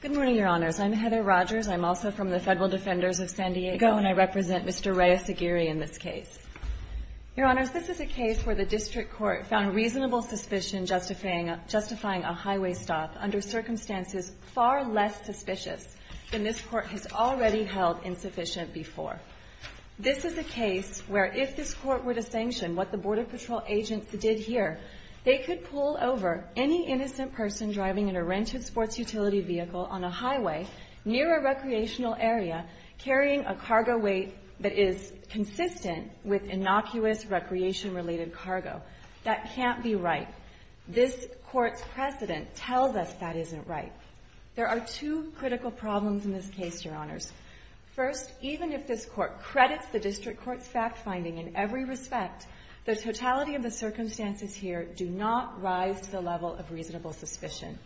Good morning, Your Honors. I'm Heather Rogers. I'm also from the Federal Defenders of San Diego and I represent Mr. Reyes-Aguirre in this case. Your Honors, this is a case where the District Court found reasonable suspicion justifying a highway stop under circumstances far less suspicious than this Court has already held insufficient before. This is a case where if this Court were to sanction what the Border any innocent person driving in a rented sports utility vehicle on a highway near a recreational area carrying a cargo weight that is consistent with innocuous recreation-related cargo. That can't be right. This Court's precedent tells us that isn't right. There are two critical problems in this case, Your Honors. First, even if this Court credits the District Court's fact-finding in every respect, the totality of the circumstances here do not rise to the level of reasonable suspicion.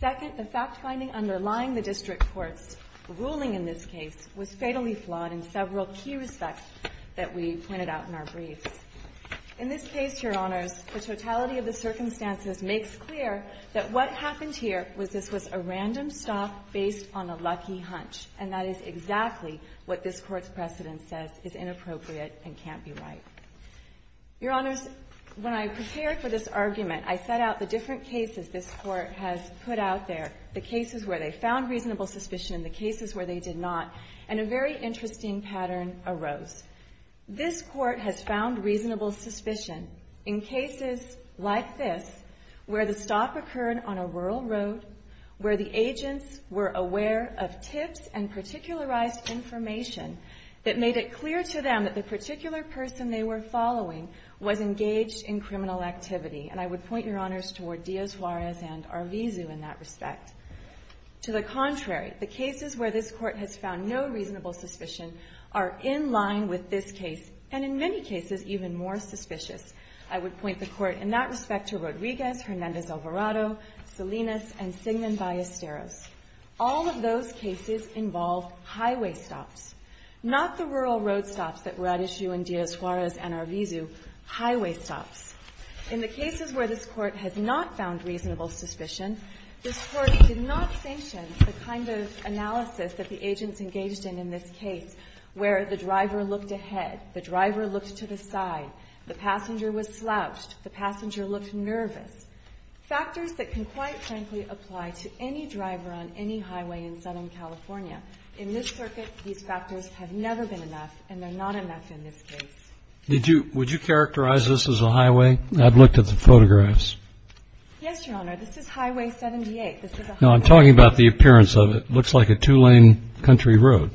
Second, the fact-finding underlying the District Court's ruling in this case was fatally flawed in several key respects that we pointed out in our briefs. In this case, Your Honors, the totality of the circumstances makes clear that what happened here was this was a random stop based on a lucky hunch, and that is exactly what this Court's precedent says is inappropriate and can't be right. Your Honors, when I prepared for this argument, I set out the different cases this Court has put out there, the cases where they found reasonable suspicion and the cases where they did not, and a very interesting pattern arose. This Court has found reasonable suspicion in cases like this, where the stop occurred on a rural road, where the agents were aware of tips and particularized information that made it clear to them that the particular person they were following was engaged in criminal activity, and I would point Your Honors toward Díaz-Juarez and Arvizu in that respect. To the contrary, the cases where this Court has found no reasonable suspicion are in line with this case, and in many cases, even more suspicious. I would point the Court in that respect to Rodríguez, Hernández-Alvarado, Salinas, and Sigmund Ballesteros. All of those cases involve highway stops, not the rural road stops that were at issue in Díaz-Juarez and Arvizu, highway stops. In the cases where this Court has not found reasonable suspicion, this Court did not sanction the kind of analysis that the agents engaged in in this case, where the driver looked ahead, the driver looked to the side, the passenger was slouched, the passenger looked nervous, factors that can, quite frankly, apply to any driver on any highway in Southern California. In this circuit, these factors have never been enough, and they're not enough in this case. Did you – would you characterize this as a highway? I've looked at the photographs. Yes, Your Honor. This is Highway 78. This is a highway. No, I'm talking about the appearance of it. It looks like a two-lane country road.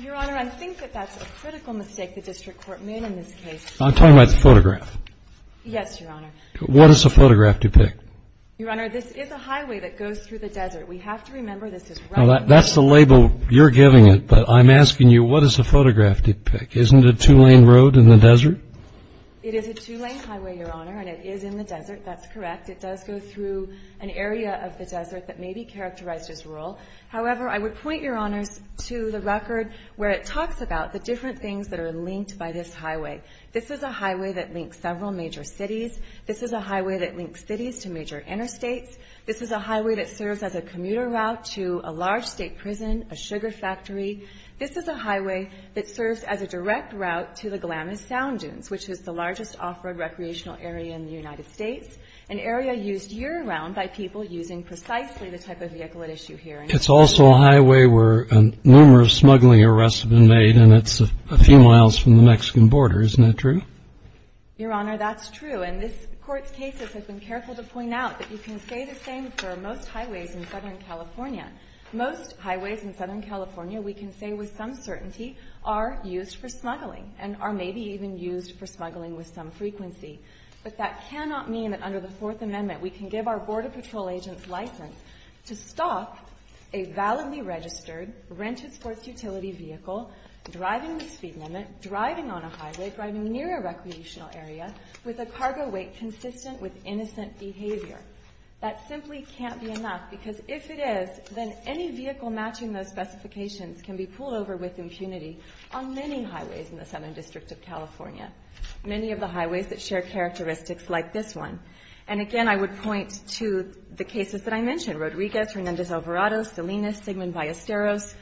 Your Honor, I think that that's a critical mistake the district court made in this case. I'm talking about the photograph. Yes, Your Honor. What does the photograph depict? Your Honor, this is a highway that goes through the desert. We have to remember this is right – That's the label you're giving it, but I'm asking you, what does the photograph depict? Isn't it a two-lane road in the desert? It is a two-lane highway, Your Honor, and it is in the desert. That's correct. It does go through an area of the desert that may be characterized as rural. However, I would point, Your Honors, to the record where it talks about the different things that are linked by this highway. This is a highway that links several major cities. This is a highway that links cities to major interstates. This is a highway that serves as a commuter route to a large state prison, a sugar factory. This is a highway that serves as a direct route to the Glamis Sound Dunes, which is the largest off-road recreational area in the United States, an area used year around by people using precisely the type of vehicle at issue here. It's also a highway where numerous smuggling arrests have been made, and it's a few miles from the Mexican border. Isn't that true? Your Honor, that's true. And this Court's case has been careful to point out that you can say the same for most highways in Southern California. Most highways in Southern California, we can say with some certainty, are used for smuggling and are maybe even used for smuggling with some frequency. But that cannot mean that under the Fourth Amendment we can give our Border Patrol agents license to stop a validly registered rented sports utility vehicle driving the speed limit, driving on a highway, driving near a recreational area with a cargo weight consistent with innocent behavior. That simply can't be enough, because if it is, then any vehicle matching those specifications can be pulled over with impunity on many highways in the Southern District of California, many of the highways that share characteristics like this one. And again, I would point to the cases that I mentioned, Rodriguez, Hernandez-Alvarado, Salinas, Sigman-Ballesteros.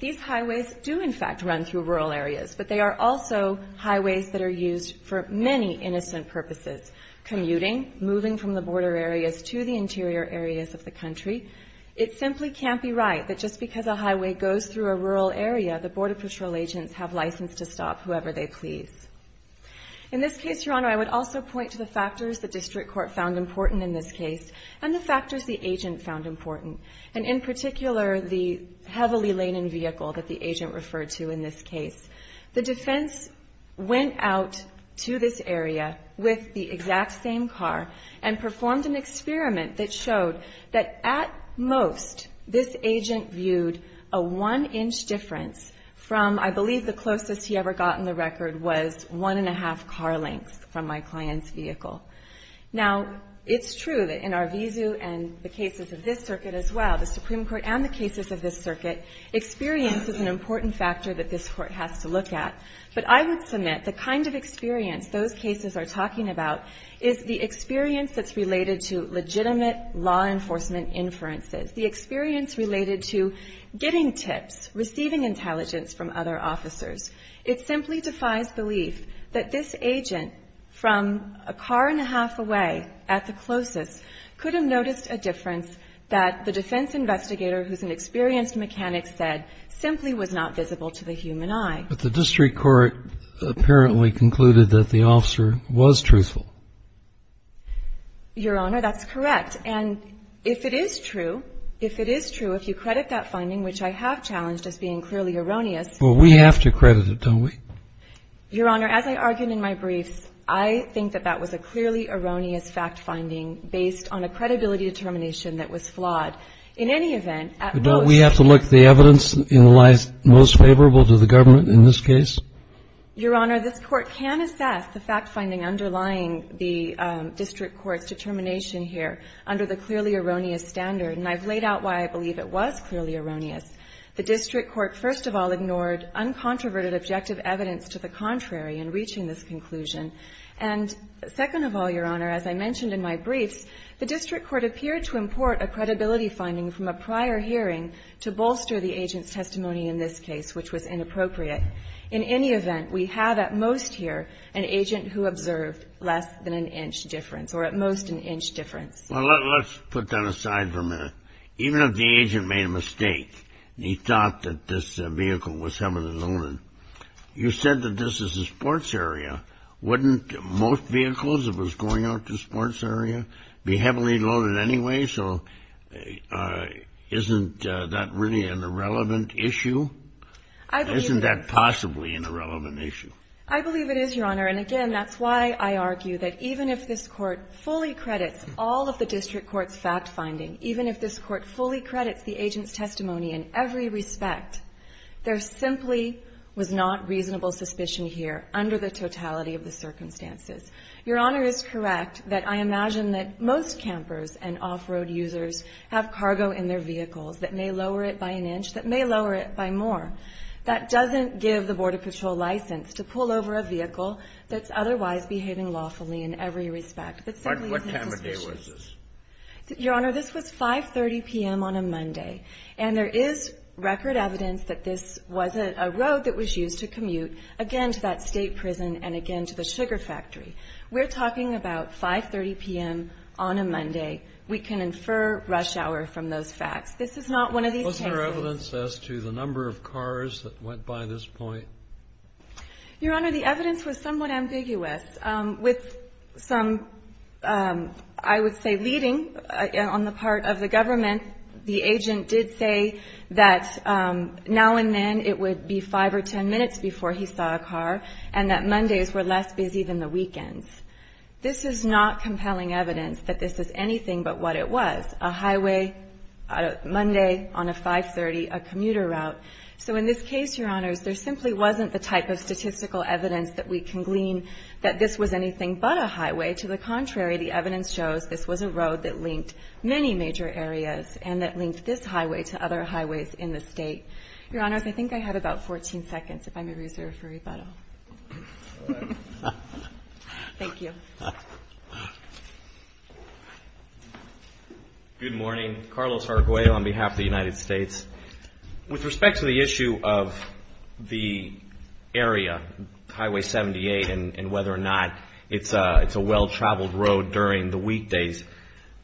These highways do in fact run through rural areas, but they are also highways that are used for many innocent purposes, commuting, moving from the border areas to the interior areas of the country. It simply can't be right that just because a highway goes through a rural area, the Border Patrol agents have license to stop whoever they please. In this case, Your Honor, I would also point to the factors the District Court found important in this case and the factors the agent found important, and in particular the heavily-laden vehicle that the agent referred to in this case. The defense went out to this area with the exact same car and performed an experiment that showed that at most this agent viewed a one-inch difference from, I believe the closest he ever got in the record was one and a half car lengths from my client's vehicle. Now, it's true that in Arvizu and the cases of this circuit as well, the experience is an important factor that this Court has to look at, but I would submit the kind of experience those cases are talking about is the experience that's related to legitimate law enforcement inferences, the experience related to getting tips, receiving intelligence from other officers. It simply defies belief that this agent from a car and a half away at the closest could have noticed a difference that the defense investigator, who's an experienced mechanic, said simply was not visible to the human eye. But the District Court apparently concluded that the officer was truthful. Your Honor, that's correct. And if it is true, if it is true, if you credit that finding, which I have challenged as being clearly erroneous. Well, we have to credit it, don't we? Your Honor, as I argued in my briefs, I think that was a clearly erroneous fact-finding based on a credibility determination that was flawed. In any event, at most... But don't we have to look the evidence in the lies most favorable to the government in this case? Your Honor, this Court can assess the fact-finding underlying the District Court's determination here under the clearly erroneous standard, and I've laid out why I believe it was clearly erroneous. The District Court, first of all, your Honor, as I mentioned in my briefs, the District Court appeared to import a credibility finding from a prior hearing to bolster the agent's testimony in this case, which was inappropriate. In any event, we have at most here an agent who observed less than an inch difference, or at most an inch difference. Well, let's put that aside for a minute. Even if the agent made a mistake, and he thought that this vehicle was some of his own, you said that this is a sports area. Wouldn't most vehicles if it was going out to the sports area be heavily loaded anyway? So isn't that really an irrelevant issue? Isn't that possibly an irrelevant issue? I believe it is, your Honor, and again, that's why I argue that even if this Court fully credits all of the District Court's fact-finding, even if this Court fully credits all of the District Court's fact-finding, I really believe that his testimony alone was not reasonable suspicion here, under the totality of the circumstances. Your Honor is correct that I imagine that most campers and off-road users have cargo in their vehicles that may lower it by an inch, that may lower it by more. That doesn't give the Border Patrol license to pull over a vehicle that's otherwise behaving lawfully in every respect. What time of day was this? Your Honor, this was 5.30 p.m. on a Monday, and there is record evidence that this was a road that was used to commute again to that state prison and again to the sugar factory. We're talking about 5.30 p.m. on a Monday. We can infer rush hour from those facts. This is not one of these cases. Wasn't there evidence as to the number of cars that went by this point? Your Honor, the evidence was somewhat ambiguous. With some, I would say, leading on the part of the government, the agent did say that now and then it would be 5 or 10 minutes before he saw a car, and that Mondays were less busy than the weekends. This is not compelling evidence that this is anything but what it was, a highway Monday on a 5.30, a commuter route. So in this case, Your Honors, there simply wasn't the type of statistical evidence that we can glean that this was anything but a highway. To the contrary, the evidence shows this was a road that linked many major areas and that linked this highway to other highways in the state. Your Honors, I think I have about 14 seconds, if I may reserve for rebuttal. Thank you. Good morning. Carlos Arguello on behalf of the United States. With respect to the issue of the area, Highway 78, and whether or not it's a well-traveled road during the weekdays,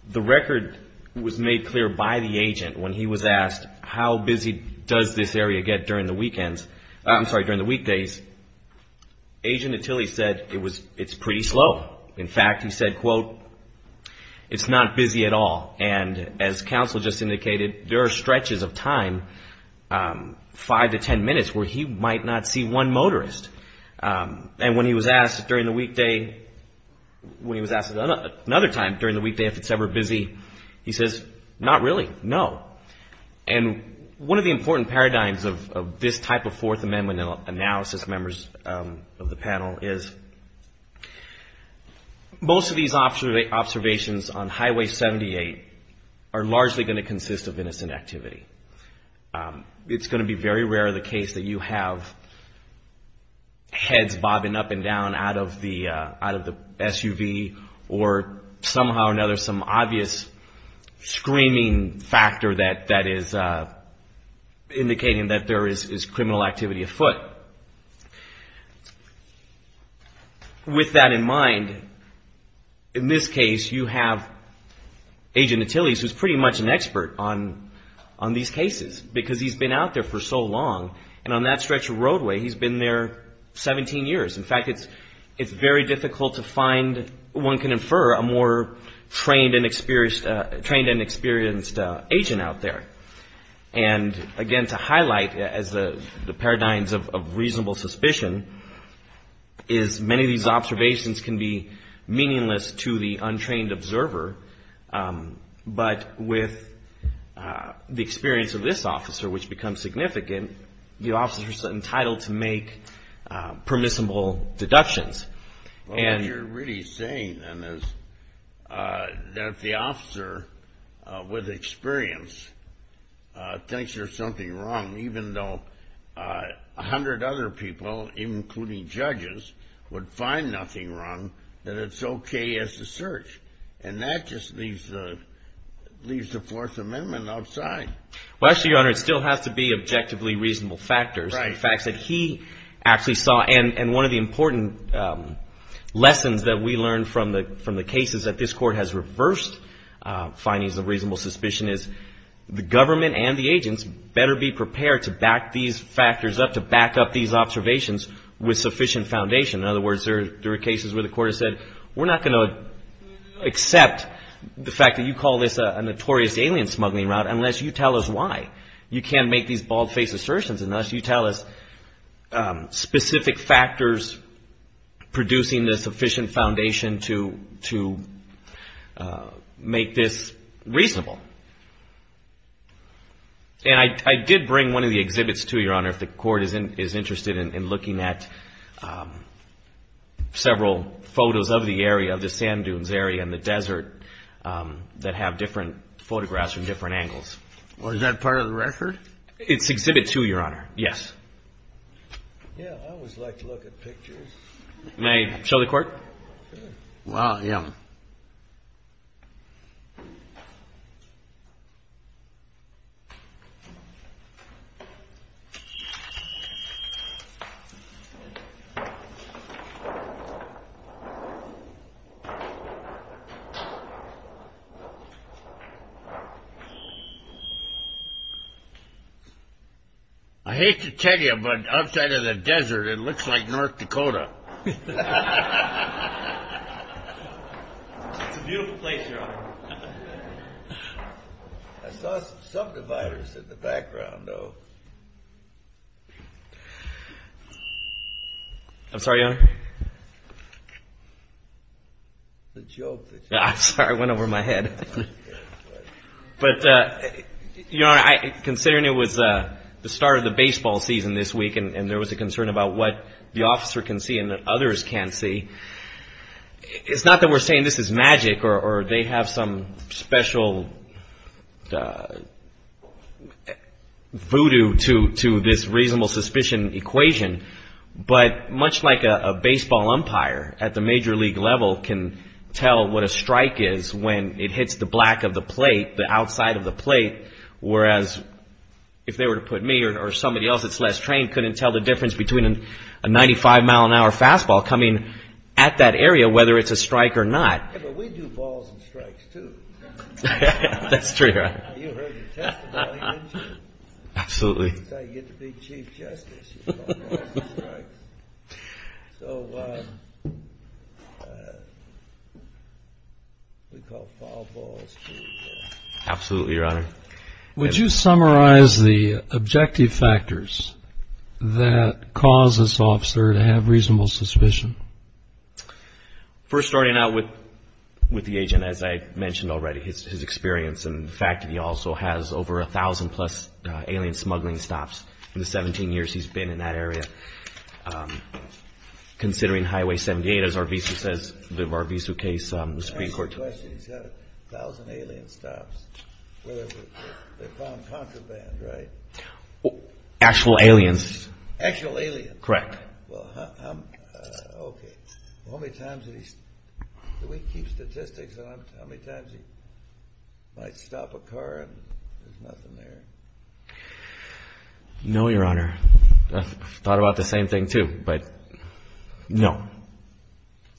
the record was made clear by the agent when he was asked how busy does this area get during the weekends, I'm sorry, during the weekdays. Agent Attili said it's pretty slow. In fact, he said, quote, it's not busy at all. And as counsel just indicated, there are stretches of time, five to ten minutes, where he might not see one motorist. And when he was asked during the weekday, when he was asked another time during the weekday if it's ever busy, he says, not really, no. And one of the important paradigms of this type of Fourth Amendment analysis, members of the panel, is most of these observations on Highway 78 are largely going to consist of innocent activity. It's going to be very rare the case that you have heads bobbing up and down out of the SUV, or somehow or another some obvious screaming factor that is indicating that there is criminal activity afoot. With that in mind, in this case, you have Agent Attili, who's pretty much an expert on these cases, because he's been out there for so long. And on that stretch of roadway, he's been there 17 years. In fact, it's very difficult to find one can infer a more trained and experienced agent out there. And again, to highlight, as the paradigms of reasonable suspicion, is many of these observations can be meaningless to the untrained observer. But with the experience of this officer, which becomes significant, the officer's entitled to make permissible deductions. Well, what you're really saying, then, is that if the officer with experience thinks there's something wrong, even though a hundred other people, including judges, would find nothing wrong, that it's okay as a search. And that just leaves the Fourth Amendment outside. Well, actually, Your Honor, it still has to be objectively reasonable factors, the facts that he actually saw. And one of the important lessons that we learned from the cases that this Court has reversed findings of reasonable suspicion is the government and the agents better be prepared to back these factors up, to back up these observations with sufficient foundation. In other words, there are cases where the Court has said, we're not going to accept the fact that you call this a notorious alien smuggling route unless you tell us why. You can't make these bald-faced assertions unless you tell us specific factors producing the sufficient foundation to make this reasonable. And I did bring one of the exhibits, too, Your Honor, if the Court is interested in looking at several photos of the area, of the sand dunes area and the desert, that have different photographs from different angles. Well, is that part of the record? It's exhibit two, Your Honor, yes. May I show the Court? I hate to tell you, but outside of the desert, it looks like North Dakota. It's a beautiful place, Your Honor. I saw some subdividers in the background, though. I'm sorry, Your Honor. The joke, the joke. I'm sorry, it went over my head. But, Your Honor, considering it was the start of the baseball season this week and there was a concern about what the officer can see and that others can't see, it's not that we're saying this is magic or they have some special voodoo to this reasonable suspicion equation, but much like a baseball umpire at the major league level can tell what a strike is when it hits the black of the plate, the outside of the plate, whereas if they were to put me or somebody else that's less trained couldn't tell the difference between a 95-mile-an-hour fastball coming at that area, whether it's a strike or not. Yeah, but we do balls and strikes, too. That's true, Your Honor. That's how you get to be Chief Justice, you call balls and strikes. We call foul balls, too. Absolutely, Your Honor. Would you summarize the objective factors that cause this officer to have reasonable suspicion? Well, first of all, it's his experience and the fact that he also has over 1,000-plus alien smuggling stops in the 17 years he's been in that area. Considering Highway 78, as our visa says, the VARVISA case, the Supreme Court... He's got 1,000 alien stops, they call them contraband, right? Actual aliens. Actual aliens. Do we keep statistics on how many times he might stop a car and there's nothing there? No, Your Honor, I've thought about the same thing, too, but no.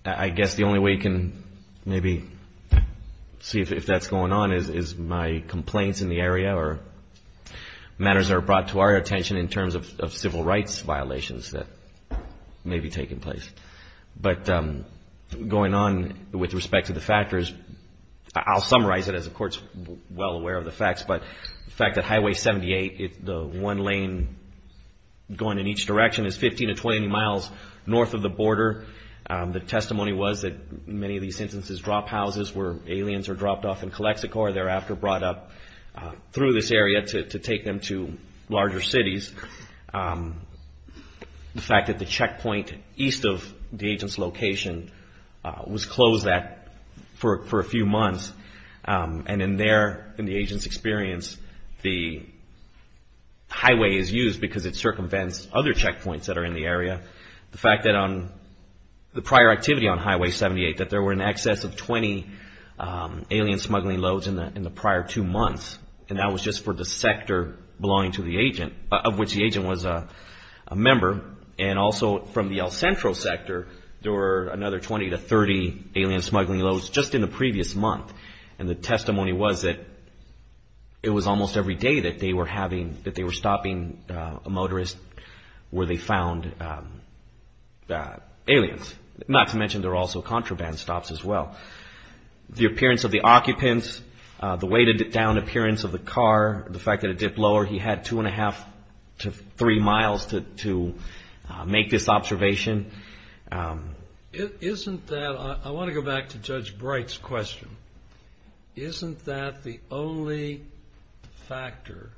I guess the only way you can maybe see if that's going on is my complaints in the area or matters that are brought to our attention in terms of civil rights violations that may be taking place. But going on with respect to the factors, I'll summarize it as the Court's well aware of the facts, but the fact that Highway 78, the one lane going in each direction is 15 to 20 miles north of the border. The testimony was that many of these instances drop houses where aliens are dropped off in Calexico or thereafter brought up through this area to take them to larger cities. The fact that the checkpoint east of the agent's location was closed that for a few months. And in there, in the agent's experience, the highway is used because it circumvents other checkpoints that are in the area. The fact that on the prior activity on Highway 78, that there were in excess of 20 alien smuggling loads in the area, in the prior two months, and that was just for the sector belonging to the agent, of which the agent was a member. And also from the El Centro sector, there were another 20 to 30 alien smuggling loads just in the previous month. And the testimony was that it was almost every day that they were stopping a motorist where they found aliens. Not to mention there were also contraband stops as well. The way to dip down appearance of the car, the fact that it dipped lower, he had two and a half to three miles to make this observation. Isn't that, I want to go back to Judge Bright's question, isn't that the only factor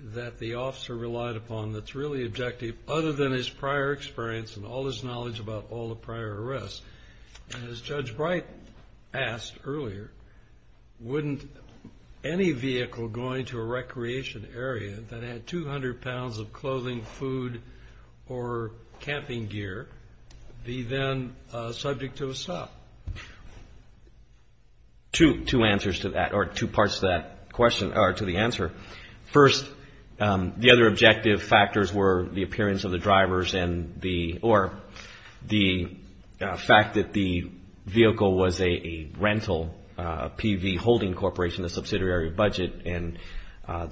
that the officer relied upon that's really objective other than his prior experience and all his knowledge about all the prior arrests? And as Judge Bright asked earlier, wouldn't any vehicle going to a recreation area that had 200 pounds of clothing, food, or camping gear, be then subject to a stop? Two answers to that, or two parts to that question, or to the answer. First, the other objective factors were the appearance of the drivers and the, or the fact that there were aliens in the area. The fact that the vehicle was a rental, a PV holding corporation, a subsidiary of budget, and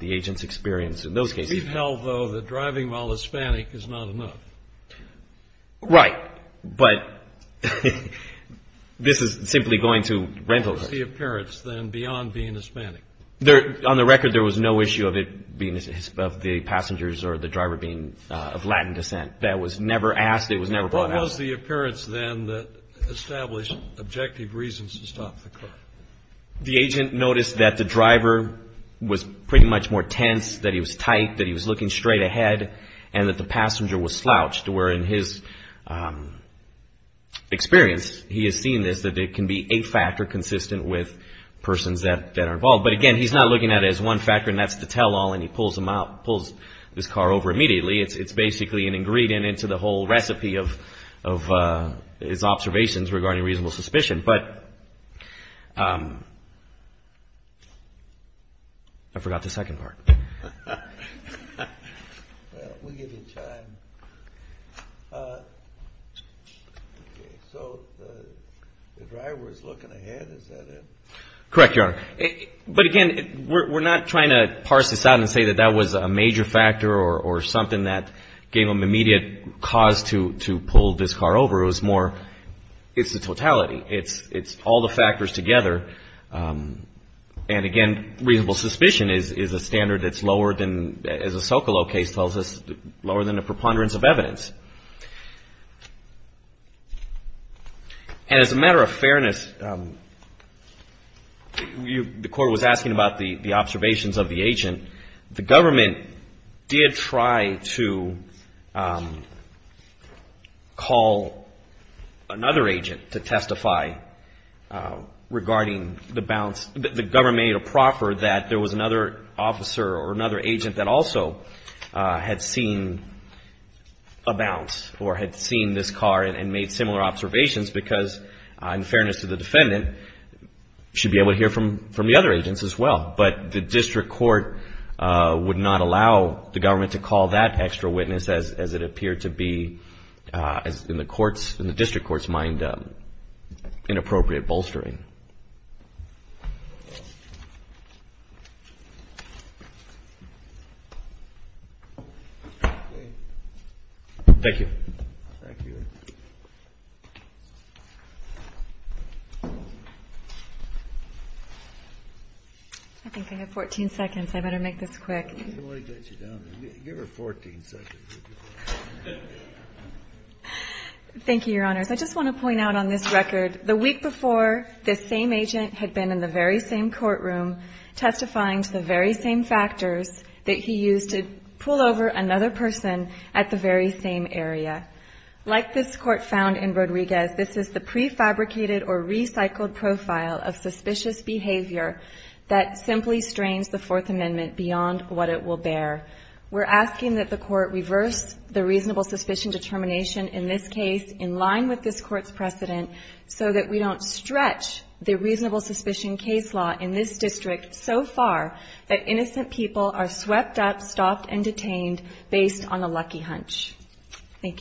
the agent's experience in those cases. We've held, though, that driving while Hispanic is not enough. Right, but this is simply going to rental. What was the appearance then beyond being Hispanic? On the record, there was no issue of it being, of the passengers or the driver being of Latin descent. That was never asked, it was never brought up. What was the appearance then that established objective reasons to stop the car? The agent noticed that the driver was pretty much more tense, that he was tight, that he was looking straight ahead, and that the passenger was slouched. Where in his experience, he has seen this, that it can be a factor consistent with persons that are involved. But again, he's not looking at it as one factor, and that's the tell-all, and he pulls this car over immediately. It's basically an ingredient into the whole recipe of his observations regarding reasonable suspicion. But, I forgot the second part. Well, we'll give you time. So, the driver is looking ahead, is that it? Correct, Your Honor. But again, we're not trying to parse this out and say that that was a major factor or something that gave him immediate cause to pull this car over. It was more, it's the totality, it's all the factors together. And again, reasonable suspicion is a standard that's lower than, as the Socolow case tells us, lower than a preponderance of evidence. And as a matter of fairness, the court was asking about the observations of the agent. The government did try to call another agent to testify regarding the balance. The government made a proffer that there was another officer or another agent that also had seen a balance of evidence. Or had seen this car and made similar observations because, in fairness to the defendant, should be able to hear from the other agents as well. But the district court would not allow the government to call that extra witness as it appeared to be, in the district court's mind, inappropriate bolstering. Thank you. Thank you. I think I have 14 seconds. I better make this quick. I don't want to get you down there. Give her 14 seconds. Thank you, Your Honors. I just want to point out on this record, the week before, this same agent had been in the very same courtroom testifying to the very same factors that he used to pull over another person at the very same area. Like this court found in Rodriguez, this is the prefabricated or recycled profile of suspicious behavior that simply strains the Fourth Amendment beyond what it is. We're asking that the court reverse the reasonable suspicion determination in this case, in line with this court's precedent, so that we don't stretch the reasonable suspicion case law in this district so far that innocent people are swept up, stopped, and detained based on a lucky hunch. Thank you.